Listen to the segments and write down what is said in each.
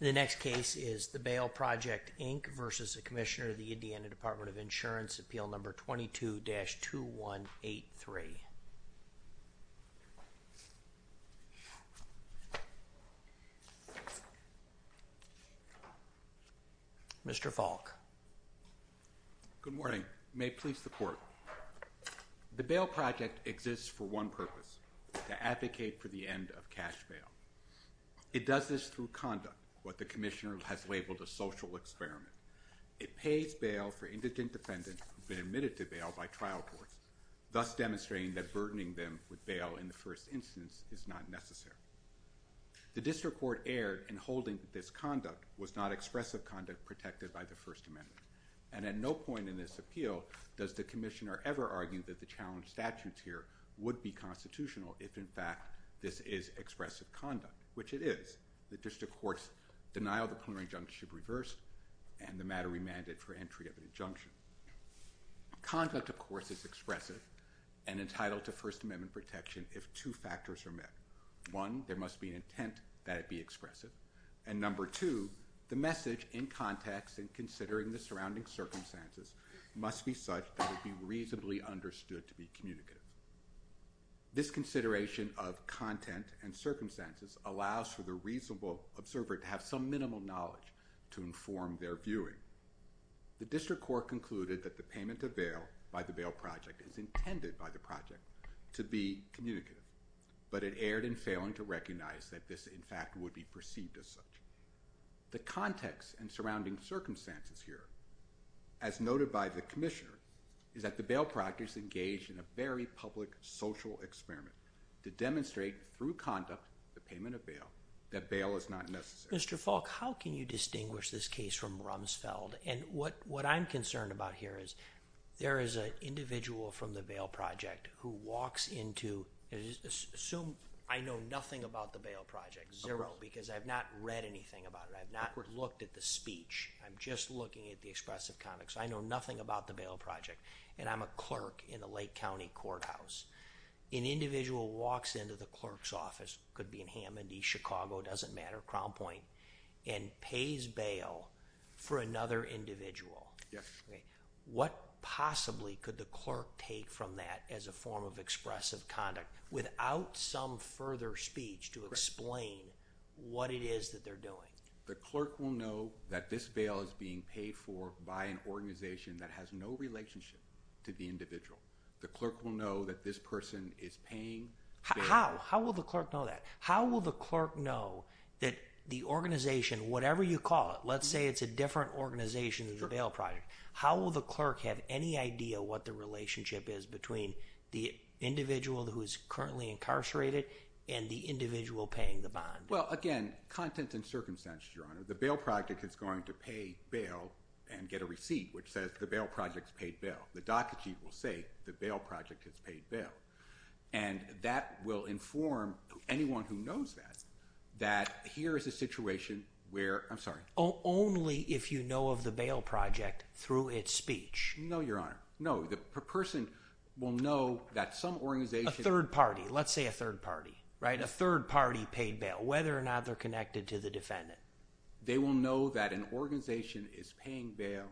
The next case is the Bail Project, Inc. v. Commissioner, Indiana Department of Insurance, Appeal No. 22-2183 Mr. Falk Good morning. May it please the Court. The Bail Project exists for one purpose, to advocate for the end of cash bail. It does this through conduct, what the Commissioner has labeled a social experiment. It pays bail for indigent defendants who have been admitted to bail by trial court, thus demonstrating that burdening them with bail in the first instance is not necessary. The District Court erred in holding that this conduct was not expressive conduct protected by the First Amendment, and at no point in this appeal does the Commissioner ever argue that the challenged statutes here would be constitutional if, in fact, this is expressive conduct, which it is. The District Court's denial of the clearing injunction should reverse, and the matter remanded for entry of an injunction. Conduct, of course, is expressive and entitled to First Amendment protection if two factors are met. One, there must be an intent that it be expressive, and number two, the message in context and considering the surrounding circumstances must be such that it be reasonably understood to be communicative. This consideration of content and circumstances allows for the reasonable observer to have some minimal knowledge to inform their viewing. The District Court concluded that the payment of bail by the Bail Project is intended by the Project to be communicative, but it erred in failing to recognize that this, in fact, would be and surrounding circumstances here. As noted by the Commissioner, is that the Bail Project is engaged in a very public social experiment to demonstrate through conduct the payment of bail that bail is not necessary. Mr. Falk, how can you distinguish this case from Rumsfeld? What I'm concerned about here is there is an individual from the Bail Project who walks into, assume I know nothing about the Bail Project, zero, because I've not read anything about it. I've not looked at the speech. I'm just looking at the expressive conduct. I know nothing about the Bail Project, and I'm a clerk in the Lake County Courthouse. An individual walks into the clerk's office, could be in Hammond, East Chicago, doesn't matter, Crown Point, and pays bail for another individual. What possibly could the clerk take from that as a form of expressive conduct without some further speech to explain what it is that they're doing? The clerk will know that this bail is being paid for by an organization that has no relationship to the individual. The clerk will know that this person is paying bail. How will the clerk know that? How will the clerk know that the organization, whatever you call it, let's say it's a different organization than the Bail Project, how will the clerk have any idea what the relationship is between the individual who is currently incarcerated and the individual paying the bond? Well, again, content and circumstance, Your Honor. The Bail Project is going to pay bail and get a receipt which says the Bail Project's paid bail. The docket sheet will say the Bail Project has paid bail, and that will inform anyone who knows that that here is a situation where, I'm sorry. Only if you know of the Bail Project through its speech. No, Your Honor. No, the person will know that some organization... A third party. Let's say a third party, right? A third party paid bail, whether or not they're connected to the defendant. They will know that an organization is paying bail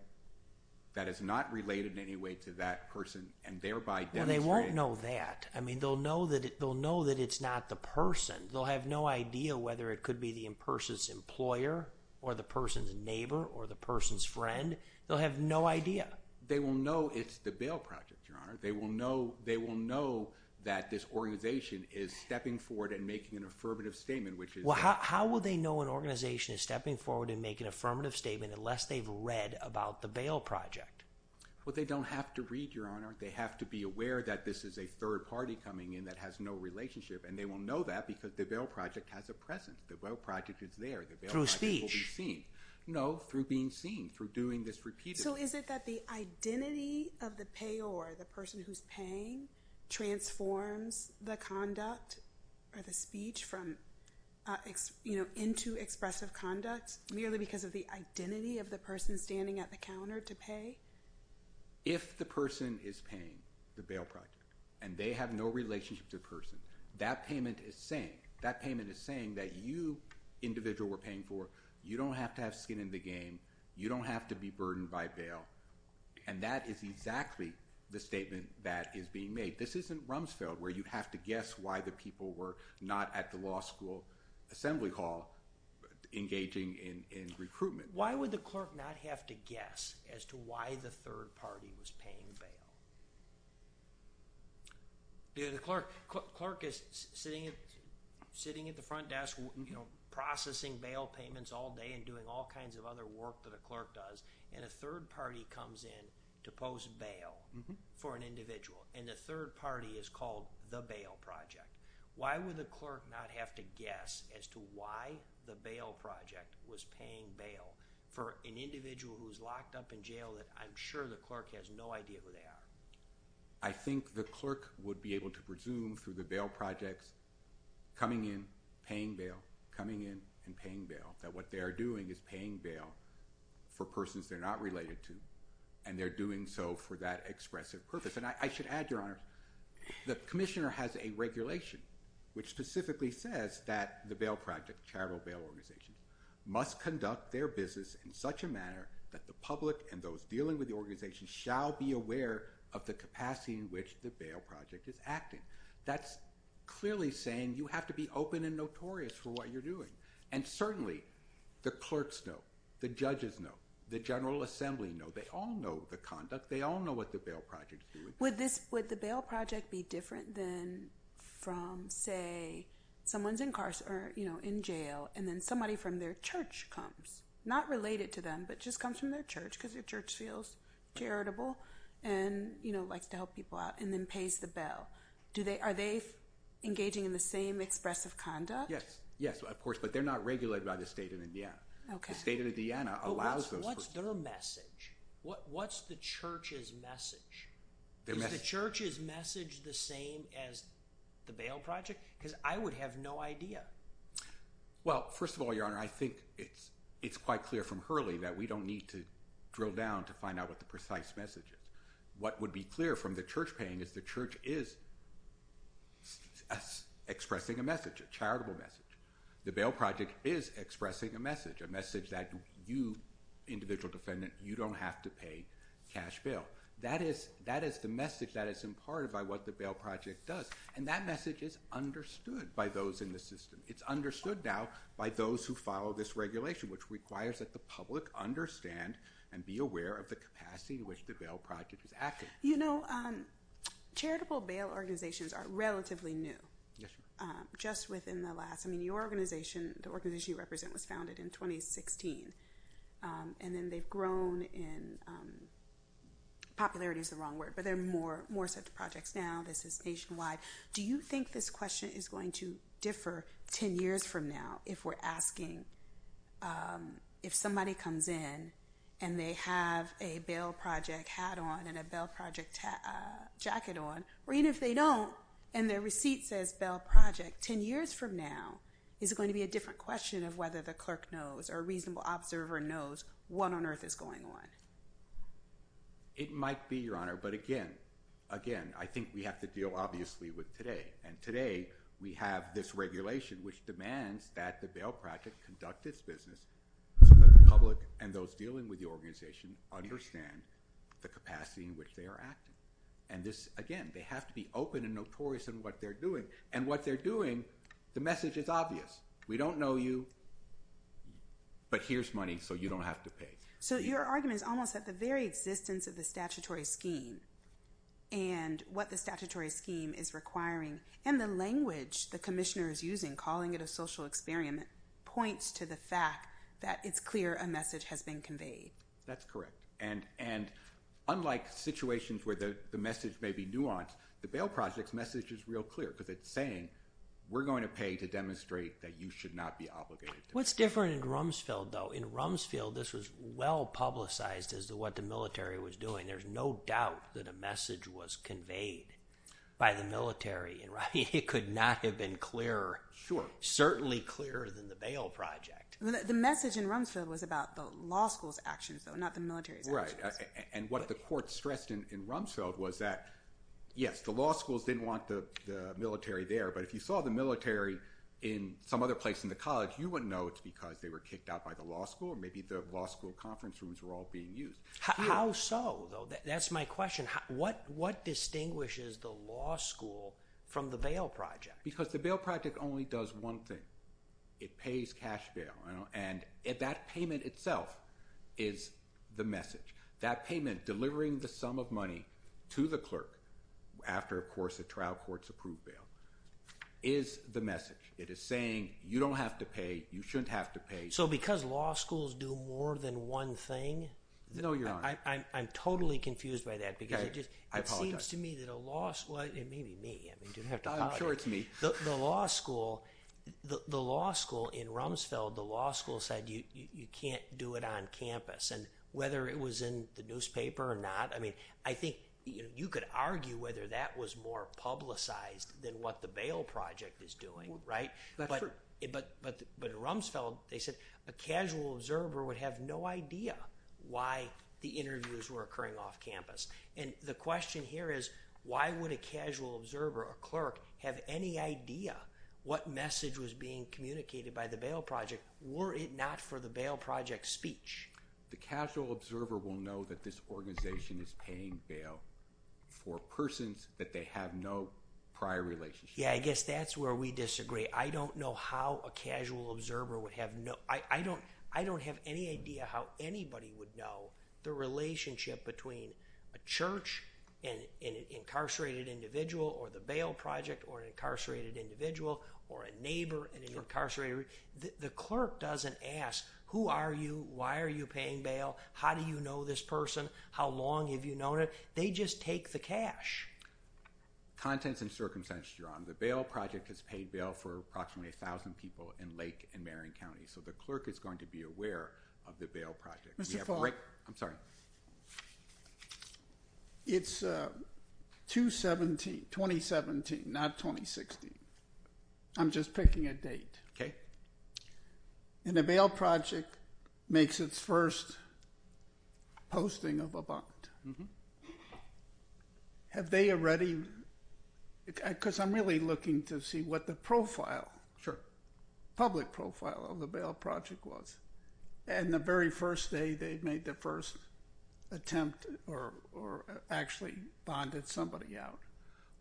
that is not related in any way to that person and thereby demonstrating... Well, they won't know that. I mean, they'll know that it's not the person. They'll have no idea whether it could be the person's employer or the person's neighbor or the person's friend. They'll have no idea. They will know it's the Bail Project, Your Honor. They will know that this organization is stepping forward and making an affirmative statement, which is... How will they know an organization is stepping forward and making an affirmative statement unless they've read about the Bail Project? They don't have to read, Your Honor. They have to be aware that this is a third party coming in that has no relationship, and they will know that because the Bail Project has a presence. The Bail Project is there. The Bail Project will be seen. Through speech? No, through being seen, through doing this repeatedly. So is it that the identity of the payor, the person who's paying, transforms the conduct or the speech into expressive conduct merely because of the identity of the person standing at the counter to pay? If the person is paying the Bail Project, and they have no relationship to the person, that payment is saying that you, individual we're paying for, you don't have to have skin in the game, you don't have to be burdened by bail, and that is exactly the statement that is being made. This isn't Rumsfeld, where you have to guess why the people were not at the law school assembly hall engaging in recruitment. Why would the clerk not have to guess as to why the third party was paying bail? Yeah, the clerk is sitting at the front desk, you know, processing bail payments all day and doing all kinds of other work that a clerk does, and a third party comes in to post bail for an individual, and the third party is called the Bail Project. Why would the clerk not have to guess as to why the Bail Project was paying bail for an individual who's locked up in jail that I'm sure the clerk has no idea who they are? I think the clerk would be able to presume through the Bail Projects coming in, paying bail, coming in, and paying bail, that what they are doing is paying bail for persons they're not related to, and they're doing so for that expressive purpose. And I should add, Your Honor, the commissioner has a regulation which specifically says that the Bail Project, charitable bail organizations, must conduct their business in such a manner that the public and those dealing with the organization shall be aware of the capacity in which the Bail Project is acting. That's clearly saying you have to be open and notorious for what you're doing. And certainly, the clerks know, the judges know, the General Judiciary knows the conduct. They all know what the Bail Project is doing. Would the Bail Project be different than from, say, someone's incarcerated, or in jail, and then somebody from their church comes, not related to them, but just comes from their church because their church feels charitable and likes to help people out, and then pays the bail. Are they engaging in the same expressive conduct? Yes. Yes, of course, but they're not regulated by the state of Indiana. Okay. The state of Indiana allows those persons. What's their message? What's the church's message? Is the church's message the same as the Bail Project? Because I would have no idea. Well, first of all, Your Honor, I think it's quite clear from Hurley that we don't need to drill down to find out what the precise message is. What would be clear from the church paying is the church is expressing a message, a charitable message. The Bail Project is individual defendant. You don't have to pay cash bail. That is the message that is imparted by what the Bail Project does, and that message is understood by those in the system. It's understood now by those who follow this regulation, which requires that the public understand and be aware of the capacity in which the Bail Project is acting. You know, charitable bail organizations are relatively new, just within the last... I represent was founded in 2016, and then they've grown in... Popularity is the wrong word, but there are more such projects now. This is nationwide. Do you think this question is going to differ 10 years from now if we're asking, if somebody comes in and they have a Bail Project hat on and a Bail Project jacket on, or even if they don't and their receipt says Bail Project, 10 years from now, is it going to be a different question of whether the clerk knows or a reasonable observer knows what on earth is going on? It might be, Your Honor, but again, again, I think we have to deal obviously with today, and today we have this regulation which demands that the Bail Project conduct its business so that the public and those dealing with the organization understand the capacity in which they are acting. And this, again, they have to be open and notorious in what they're doing, and what they're doing, the message is obvious. We don't know you, but here's money so you don't have to pay. So your argument is almost that the very existence of the statutory scheme and what the statutory scheme is requiring, and the language the commissioner is using, calling it a social experiment, points to the fact that it's clear a message has been conveyed. That's correct, and unlike situations where the message may be nuanced, the Bail Project's message is real clear because it's saying we're going to pay to demonstrate that you should not be obligated. What's different in Rumsfeld, though, in Rumsfeld this was well publicized as to what the military was doing. There's no doubt that a message was conveyed by the military, and it could not have been clearer, certainly clearer than the Bail Project. The message in Rumsfeld was that, yes, the law schools didn't want the military there, but if you saw the military in some other place in the college, you wouldn't know it's because they were kicked out by the law school, or maybe the law school conference rooms were all being used. How so, though? That's my question. What distinguishes the law school from the Bail Project? Because the Bail Project only does one thing. It pays cash bail, and that payment itself is the message. That payment, delivering the sum of money to the clerk after, of course, a trial court's approved bail, is the message. It is saying you don't have to pay, you shouldn't have to pay. So because law schools do more than one thing? No, Your Honor. I'm totally confused by that because it seems to me that a law school, and maybe me, I mean you don't have to apologize. I'm sure it's me. The law school in Rumsfeld, the law school said you can't do it on campus, and whether it was in the newspaper or not, I mean, I think you could argue whether that was more publicized than what the Bail Project is doing, right? But in Rumsfeld, they said a casual observer would have no idea why the interviews were occurring off campus. And the question here is, why would a casual observer, a clerk, have any idea what message was being communicated by the Bail Project, were it not for the Bail Project speech? The casual observer will know that this organization is paying bail for persons that they have no prior relationship. Yeah, I guess that's where we disagree. I don't know how a casual observer would have no, I don't have any idea how anybody would know the relationship between a church, and an incarcerated individual, or the Bail Project, or an incarcerated individual, or a neighbor, and an incarcerated, the clerk doesn't ask, who are you, why are you paying bail, how do you know this person, how long have you known it, they just take the cash. Contents and circumstances, your honor, the Bail Project has paid bail for approximately a thousand people in Lake and Marion County, so the clerk is going to be aware of the Bail Project. Mr. Falk. I'm sorry. It's 2017, not 2016. I'm just picking a date. And the Bail Project makes its first posting of a bond. Have they already, because I'm really looking to see what the profile, public profile of the Bail Project was, and the very first day they made the first attempt, or actually bonded somebody out.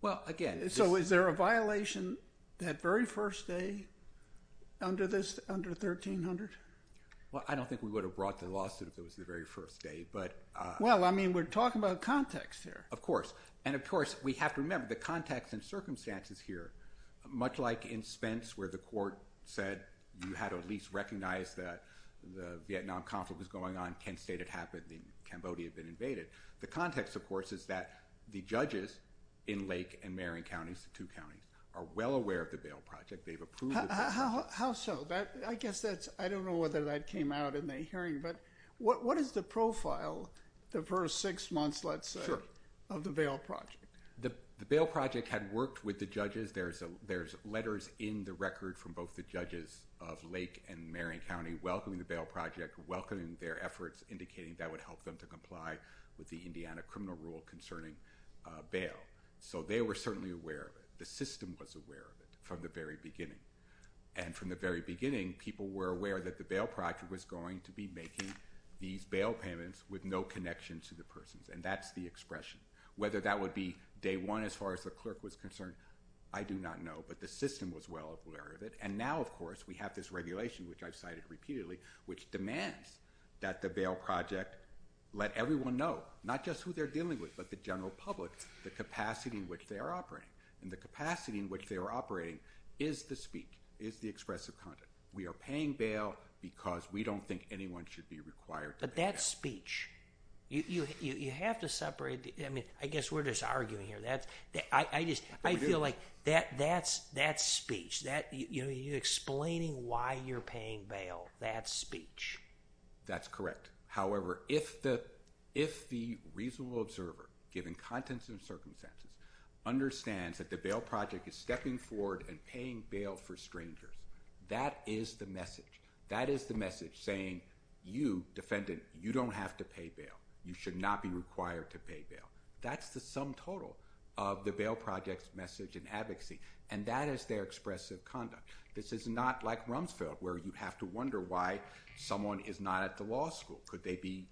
Well, again. So is there a violation that very first day under this, under 1300? Well, I don't think we would have brought the lawsuit if it was the very first day, but. Well, I mean, we're talking about context here. Of course, and of course, we have to remember the context and circumstances here, much like in Spence where the court said you had to at least recognize that the Vietnam conflict was going on, Kent State had happened, and Cambodia had been invaded. The context, of course, is that the judges in Lake and Marion County, two counties, are well aware of the Bail Project. They've approved. How so? I guess that's, I don't know whether that came out in the hearing, but what is the profile, the first six months, let's say, of the Bail Project? The Bail Project had worked with the judges. There's letters in the record from both the judges of Lake and Marion County welcoming the Bail Project, welcoming their efforts, indicating that would help them to comply with the Indiana criminal rule concerning bail. So they were certainly aware of it. The system was aware of it from the very beginning. And from the very beginning, people were aware that the Bail Project was going to be making Whether that would be day one, as far as the clerk was concerned, I do not know. But the system was well aware of it. And now, of course, we have this regulation, which I've cited repeatedly, which demands that the Bail Project let everyone know, not just who they're dealing with, but the general public, the capacity in which they are operating. And the capacity in which they are operating is the speech, is the expressive conduct. We are paying bail because we don't think anyone should be required to pay. That speech, you have to separate. I mean, I guess we're just arguing here. That's I just I feel like that that's that speech that you're explaining why you're paying bail, that speech. That's correct. However, if the if the reasonable observer, given contents and circumstances, understands that the Bail Project is stepping forward and paying bail for stranger, that is the message. That is the message saying, you, defendant, you don't have to pay bail. You should not be required to pay bail. That's the sum total of the Bail Project's message and advocacy. And that is their expressive conduct. This is not like Rumsfeld, where you have to wonder why someone is not at the law school. Could they be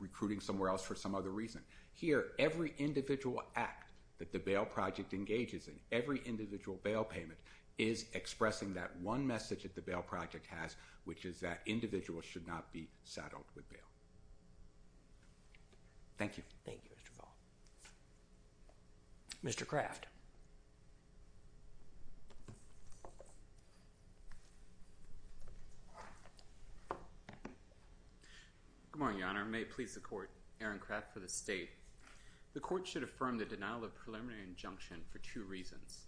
recruiting somewhere else for some other reason? Here, every individual act that the Bail Project engages in, every individual bail payment is expressing that one message that the Bail Project has, which is that individuals should not be saddled with bail. Thank you. Thank you, Mr. Ball. Mr. Craft. Good morning, Your Honor. May it please the Court, Aaron Craft for the State. The Court should affirm the denial of preliminary injunction for two reasons.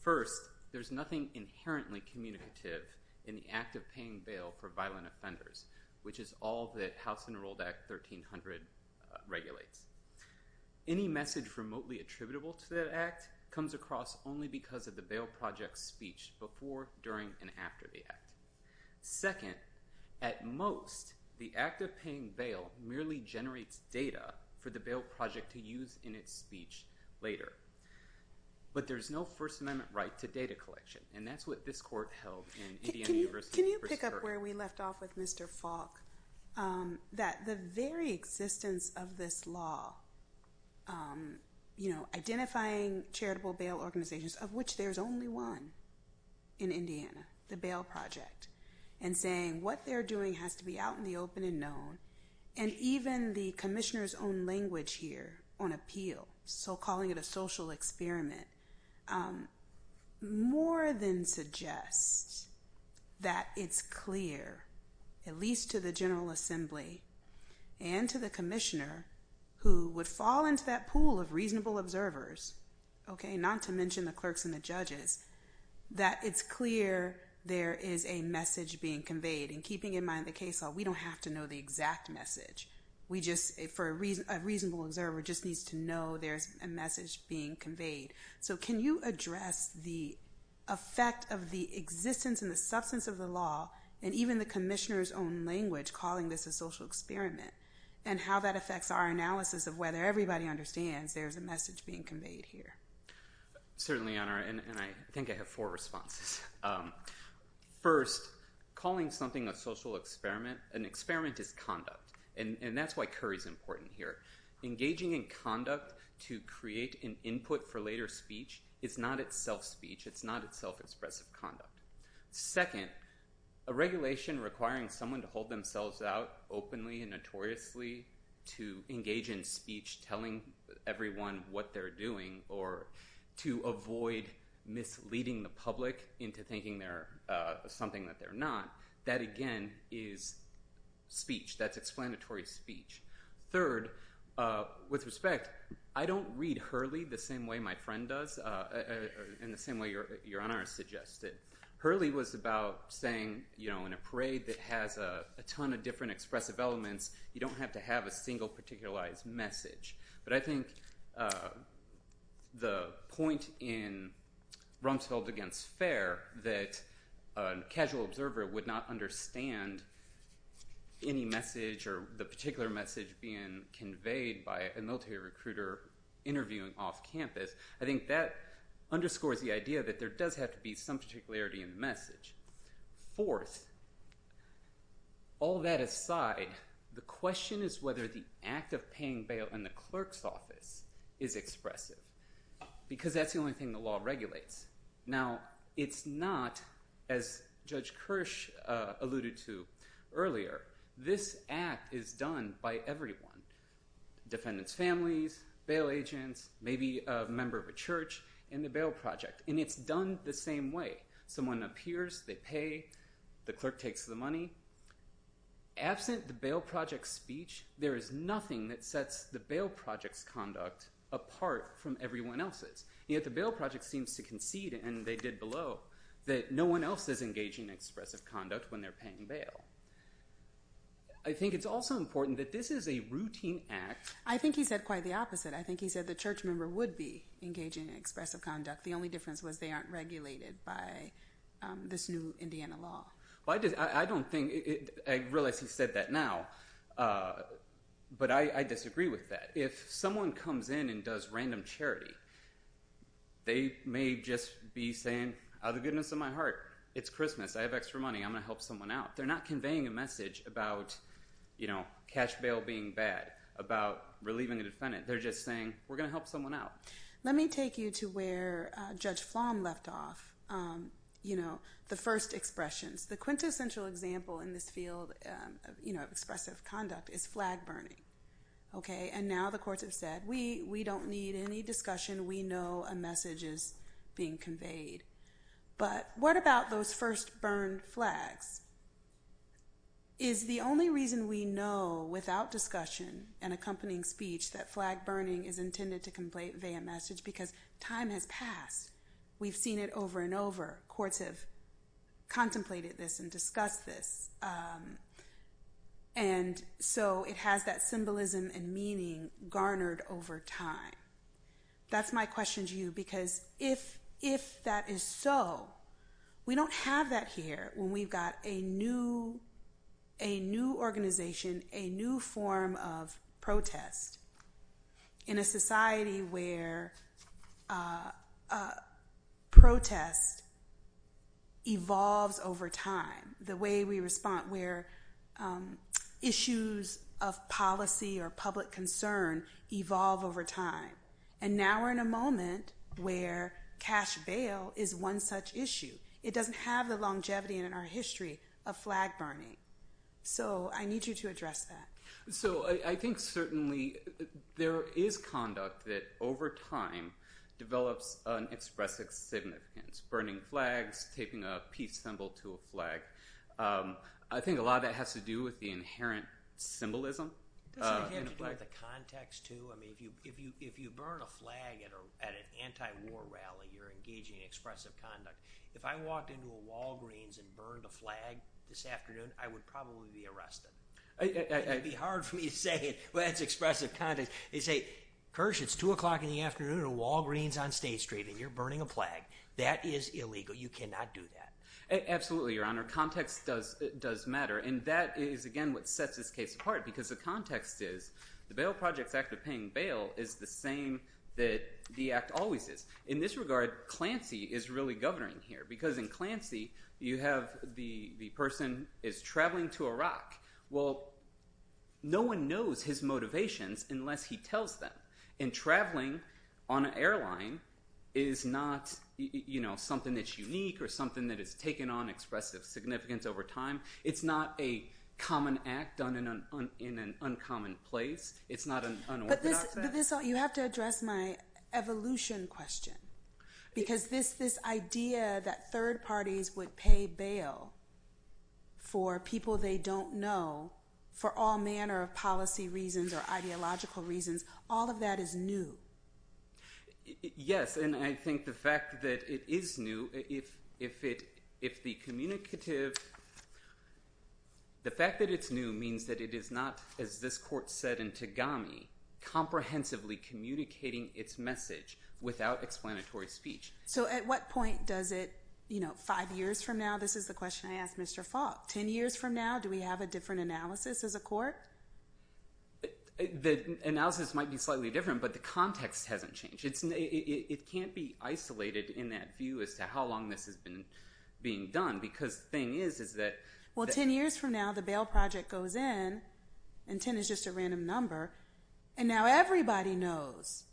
First, there's nothing inherently communicative in the act of paying bail for violent offenders, which is all that House Enrolled Act 1300 regulates. Any message remotely attributable to that act comes across only because of the Bail Project's speech before, during, and after the act. Second, at most, the act of paying bail merely generates data for the Bail Project to use in its speech later. But there's no First Amendment right to data collection, and that's what this Court held in Indiana University. Can you pick up where we left off with Mr. Falk? That the very existence of this law, you know, identifying charitable bail organizations, of which there's only one in Indiana, the Bail Project, and saying what they're doing has to be out in the open and known, and even the Commissioner's own language here on appeal, so calling it a social experiment, more than suggests that it's clear, at least to the General Assembly and to the Commissioner, who would fall into that pool of reasonable observers, okay, not to mention the clerks and the judges, that it's clear there is a message being conveyed. And keeping in mind the case law, we don't have to know the exact message. We just, for a reasonable observer, just needs to know there's a message being conveyed. So can you address the effect of the existence and the substance of the law, and even the Commissioner's own language calling this a social experiment, and how that affects our analysis of whether everybody understands there's a message being conveyed here? Certainly, Your Honor, and I think I have four responses. First, calling something a social experiment, an experiment is conduct. And that's why Curry's important here. Engaging in conduct to create an input for later speech is not itself speech. It's not itself expressive conduct. Second, a regulation requiring someone to hold themselves out openly and notoriously to engage in speech, telling everyone what they're doing, or to avoid misleading the public into thinking they're something that they're not, that, again, is speech. That's explanatory speech. Third, with respect, I don't read Hurley the same way my friend does, and the same way Your Honor has suggested. Hurley was about saying, in a parade that has a ton of different expressive elements, you don't have to have a single particularized message. But I think the point in Rumsfeld against Fair, that a casual observer would not understand any message, or the particular message being conveyed by a military recruiter interviewing off campus, I think that underscores the idea that there does have to be some particularity in the message. Fourth, all that aside, the question is whether the act of paying bail in the clerk's office is expressive, because that's the only thing the law regulates. Now, it's not, as Judge Kirsch alluded to earlier, this act is done by everyone. Defendants' families, bail agents, maybe a member of a church in the bail project. And it's done the same way. Someone appears, they pay, the clerk takes the money. Absent the bail project's speech, there is nothing that sets the bail project's conduct apart from everyone else's. Yet the bail project seems to concede, and they did below, that no one else is engaging in expressive conduct when they're paying bail. I think it's also important that this is a routine act. I think he said quite the opposite. I think he said the church member would be engaging in expressive conduct. The only difference was they aren't regulated by this new Indiana law. Well, I don't think, I realize he said that now, but I disagree with that. If someone comes in and does random charity, they may just be saying, out of the goodness of my heart, it's Christmas, I have extra money, I'm going to help someone out. They're not conveying a message about cash bail being bad, about relieving a defendant. They're just saying, we're going to help someone out. Let me take you to where Judge Flom left off, the first expressions. The quintessential example in this field of expressive conduct is flag burning. Okay, and now the courts have said, we don't need any discussion. We know a message is being conveyed. But what about those first burned flags? Is the only reason we know, without discussion and accompanying speech, that flag burning is intended to convey a message? Because time has passed. We've seen it over and over. Courts have contemplated this and discussed this. And so, it has that symbolism and meaning garnered over time. That's my question to you, because if that is so, we don't have that here when we've got a new organization, a new form of protest in a society where protest evolves over time. The way we respond where issues of policy or public concern evolve over time. And now we're in a moment where cash bail is one such issue. It doesn't have the longevity in our history of flag burning. So, I need you to address that. So, I think certainly there is conduct that, over time, develops an expressive significance. Burning flags, taping a peace symbol to a flag. I think a lot of that has to do with the inherent symbolism. It has to do with the context, too. I mean, if you burn a flag at an anti-war rally, you're engaging in expressive conduct. If I walked into a Walgreens and burned a flag this afternoon, I would probably be arrested. It would be hard for me to say, well, that's expressive context. They say, Kersh, it's 2 o'clock in the afternoon at a Walgreens on State Street, and you're burning a flag. That is illegal. You cannot do that. Absolutely, Your Honor. Context does matter. And that is, again, what sets this case apart. Because the context is, the Bail Projects Act of paying bail is the same that the Act always is. In this regard, Clancy is really governing here. Because in Clancy, you have the person is traveling to Iraq. Well, no one knows his motivations unless he tells them. And traveling on an airline is not something that's unique or something that is taken on expressive significance over time. It's not a common act done in an uncommon place. It's not an unorthodox act. But you have to address my evolution question. Because this idea that third parties would pay bail for people they don't know for all that is new. Yes. And I think the fact that it is new, if the communicative, the fact that it's new means that it is not, as this court said in Tagami, comprehensively communicating its message without explanatory speech. So at what point does it, you know, five years from now? This is the question I asked Mr. Falk. 10 years from now, do we have a different analysis as a court? The analysis might be slightly different, but the context hasn't changed. It can't be isolated in that view as to how long this has been being done. Because the thing is, is that- Well, 10 years from now, the bail project goes in. And 10 is just a random number. And now everybody knows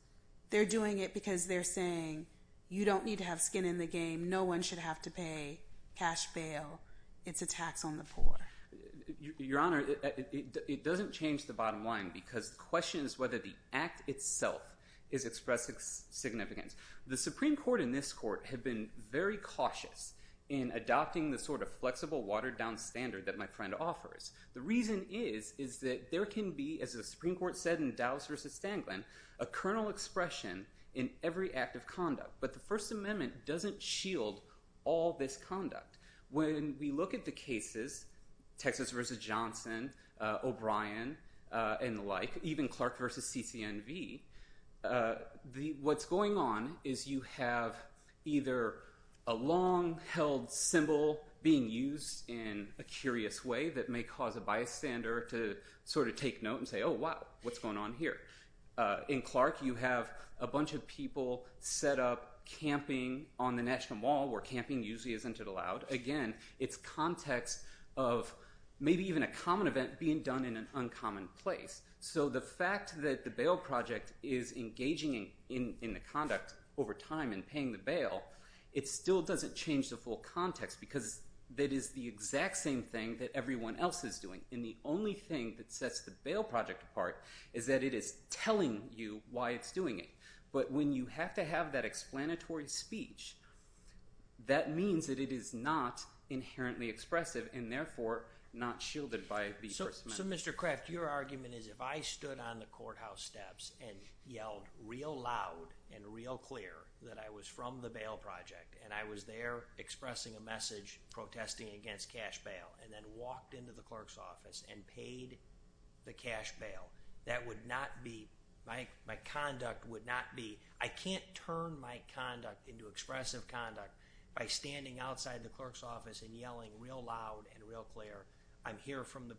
they're doing it because they're saying, you don't need to have skin in the game. No one should have to pay cash bail. It's a tax on the poor. Your Honor, it doesn't change the bottom line, because the question is whether the act itself is expressing significance. The Supreme Court and this court have been very cautious in adopting the sort of flexible, watered down standard that my friend offers. The reason is, is that there can be, as the Supreme Court said in Dows versus Stanglin, a kernel expression in every act of conduct. But the First Amendment doesn't shield all this conduct. When we look at the cases, Texas versus Johnson, O'Brien, and the like, even Clark versus CCNV, what's going on is you have either a long held symbol being used in a curious way that may cause a bystander to sort of take note and say, oh, wow, what's going on here? In Clark, you have a bunch of people set up camping on the National Mall, where camping usually isn't allowed. Again, it's context of maybe even a common event being done in an uncommon place. So the fact that the bail project is engaging in the conduct over time and paying the bail, it still doesn't change the full context, because that is the exact same thing that everyone else is doing. And the only thing that sets the bail project apart is that it is telling you why it's doing it. But when you have to have that explanatory speech, that means that it is not inherently expressive, and therefore, not shielded by the First Amendment. So Mr. Kraft, your argument is if I stood on the courthouse steps and yelled real loud and real clear that I was from the bail project, and I was there expressing a message protesting against cash bail, and then walked into the clerk's office and paid the cash bail, that would not be, my conduct would not be, I can't turn my conduct into expressive conduct by standing outside the clerk's office and yelling real loud and real clear, I'm here from the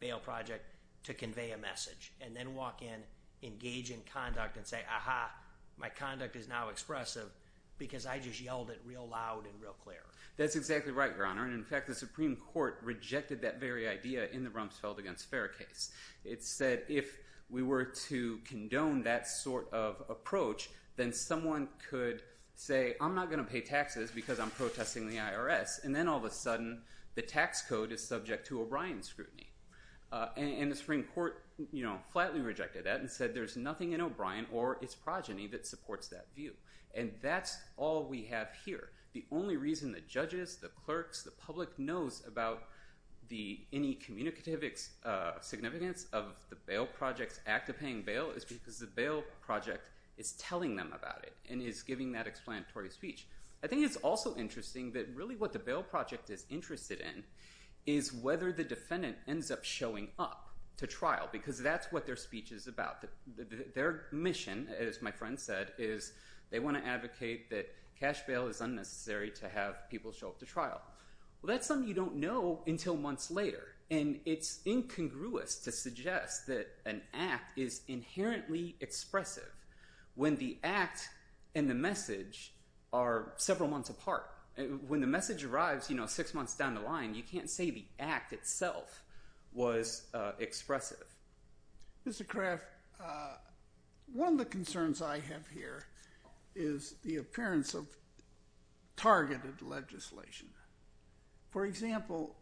bail project to convey a message. And then walk in, engage in conduct, and say, aha, my conduct is now expressive, because I just yelled it real loud and real clear. That's exactly right, Your Honor. And in fact, the Supreme Court rejected that very idea in the Rumsfeld v. Fair case. It said, if we were to condone that sort of approach, then someone could say, I'm not going to pay taxes, because I'm protesting the IRS. And then all of a sudden, the tax code is subject to O'Brien scrutiny. And the Supreme Court flatly rejected that and said, there's nothing in O'Brien or its progeny that supports that view. And that's all we have here. The only reason the judges, the clerks, the public knows about any communicative significance of the bail project's act of paying bail is because the bail project is telling them about it and is giving that explanatory speech. I think it's also interesting that really what the bail project is interested in is whether the defendant ends up showing up to trial, because that's what their speech is about. Their mission, as my friend said, is they want to advocate that cash bail is unnecessary to have people show up to trial. Well, that's something you don't know until months later. And it's incongruous to suggest that an act is inherently expressive when the act and the message are several months apart. When the message arrives six months down the line, you can't say the act itself was expressive. Mr. Craft, one of the concerns I have here is the appearance of targeted legislation. For example,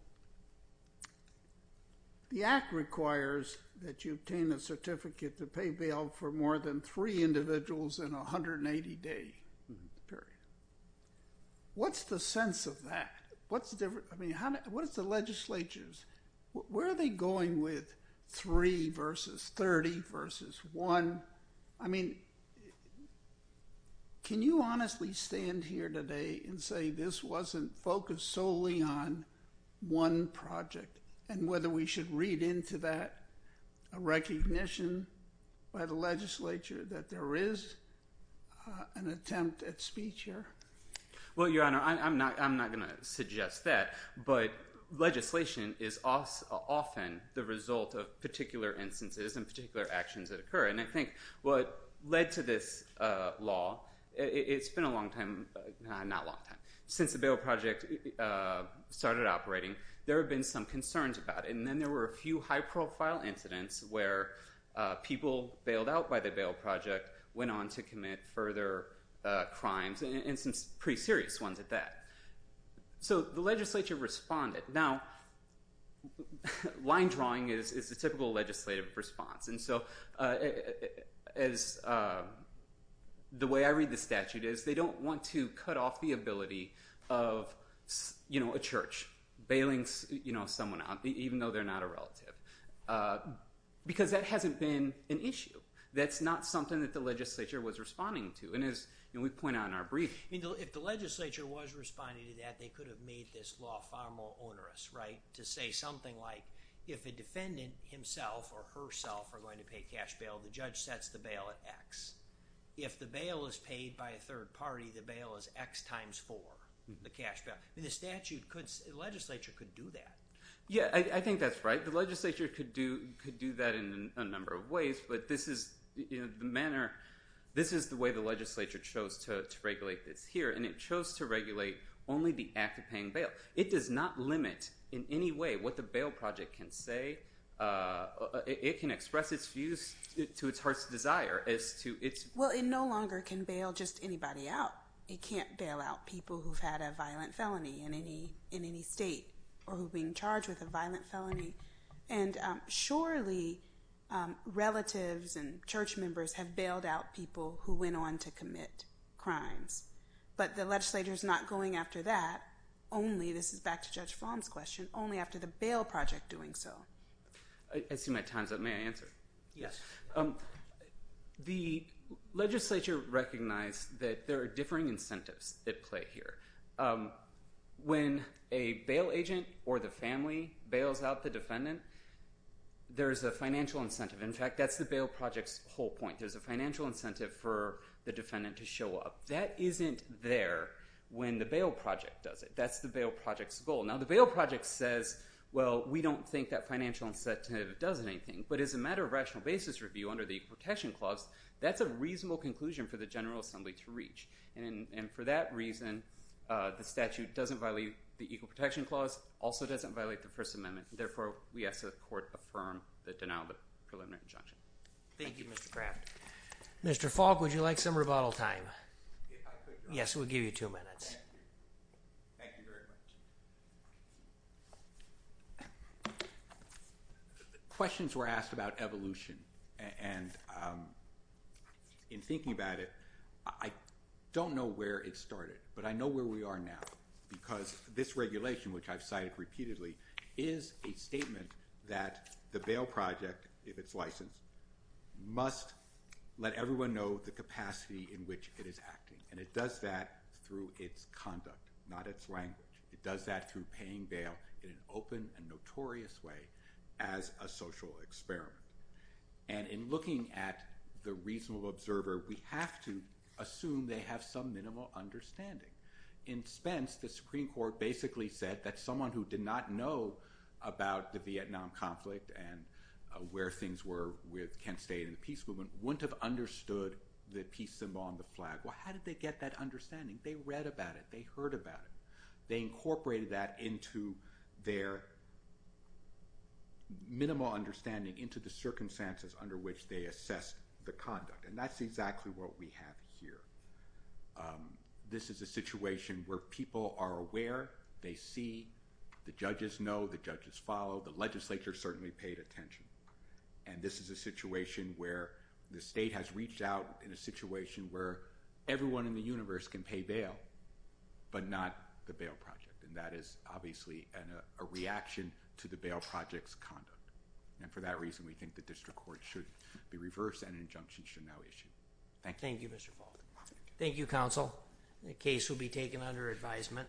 the act requires that you obtain a certificate to pay bail for more than three individuals in a 180-day period. What's the sense of that? What's the difference? I mean, what is the legislature's? Where are they going with three versus 30 versus one? I mean, can you honestly stand here today and say this wasn't focused solely on one project and whether we should read into that a recognition by the legislature that there is an attempt at speech here? Well, Your Honor, I'm not going to suggest that. But legislation is often the result of particular instances and particular actions that occur. And I think what led to this law, it's been a long time, not a long time. Since the Bail Project started operating, there have been some concerns about it. And then there were a few high-profile incidents where people bailed out by the Bail Project went on to commit further crimes and some pretty serious ones at that. So the legislature responded. Now, line drawing is the typical legislative response. And so the way I read the statute is they don't want to cut off the ability of a church bailing someone out, even though they're not a relative. Because that hasn't been an issue. That's not something that the legislature was responding to. And as we point out in our brief. If the legislature was responding to that, they could have made this law far more onerous, right? To say something like, if a defendant himself or herself are going to pay cash bail, the judge sets the bail at x. If the bail is paid by a third party, the bail is x times 4, the cash bail. The statute could, the legislature could do that. Yeah, I think that's right. The legislature could do that in a number of ways. But this is the manner, this is the way the legislature chose to regulate this here. And it chose to regulate only the act of paying bail. It does not limit in any way what the Bail Project can say. It can express its views to its heart's desire as to its. Well, it no longer can bail just anybody out. It can't bail out people who've had a violent felony in any state or who've been charged with a violent felony. And surely, relatives and church members have bailed out people who went on to commit crimes. But the legislature is not going after that. Only, this is back to Judge Fromm's question, only after the Bail Project doing so. I see my time's up. May I answer? Yes. The legislature recognized that there are differing incentives at play here. So when a bail agent or the family bails out the defendant, there's a financial incentive. In fact, that's the Bail Project's whole point. There's a financial incentive for the defendant to show up. That isn't there when the Bail Project does it. That's the Bail Project's goal. Now, the Bail Project says, well, we don't think that financial incentive does anything. But as a matter of rational basis review under the Equal Protection Clause, that's a reasonable conclusion for the General Assembly to reach. And for that reason, the statute doesn't violate the Equal Protection Clause. Also doesn't violate the First Amendment. Therefore, we ask that the court affirm the denial of the preliminary injunction. Thank you, Mr. Craft. Mr. Falk, would you like some rebuttal time? Yes, we'll give you two minutes. Thank you very much. Questions were asked about evolution. And in thinking about it, I don't know where it started. But I know where we are now. Because this regulation, which I've cited repeatedly, is a statement that the Bail Project, if it's licensed, must let everyone know the capacity in which it is acting. And it does that through its conduct, not its language. It does that through paying bail in an open and notorious way as a social experiment. And in looking at the reasonable observer, we have to assume they have some minimal understanding. In Spence, the Supreme Court basically said that someone who did not know about the Vietnam conflict and where things were with Kent State and the peace movement wouldn't have understood the peace symbol on the flag. Well, how did they get that understanding? They read about it. They heard about it. They incorporated that into their minimal understanding into the circumstances under which they assessed the conduct. And that's exactly what we have here. This is a situation where people are aware. They see. The judges know. The judges follow. The legislature certainly paid attention. And this is a situation where the state has reached out in a situation where everyone in the universe can pay bail, but not the bail project. And that is obviously a reaction to the bail project's conduct. And for that reason, we think the district court should be reversed and an injunction should now issue. Thank you. Thank you, Mr. Baldwin. Thank you, counsel. The case will be taken under advisement.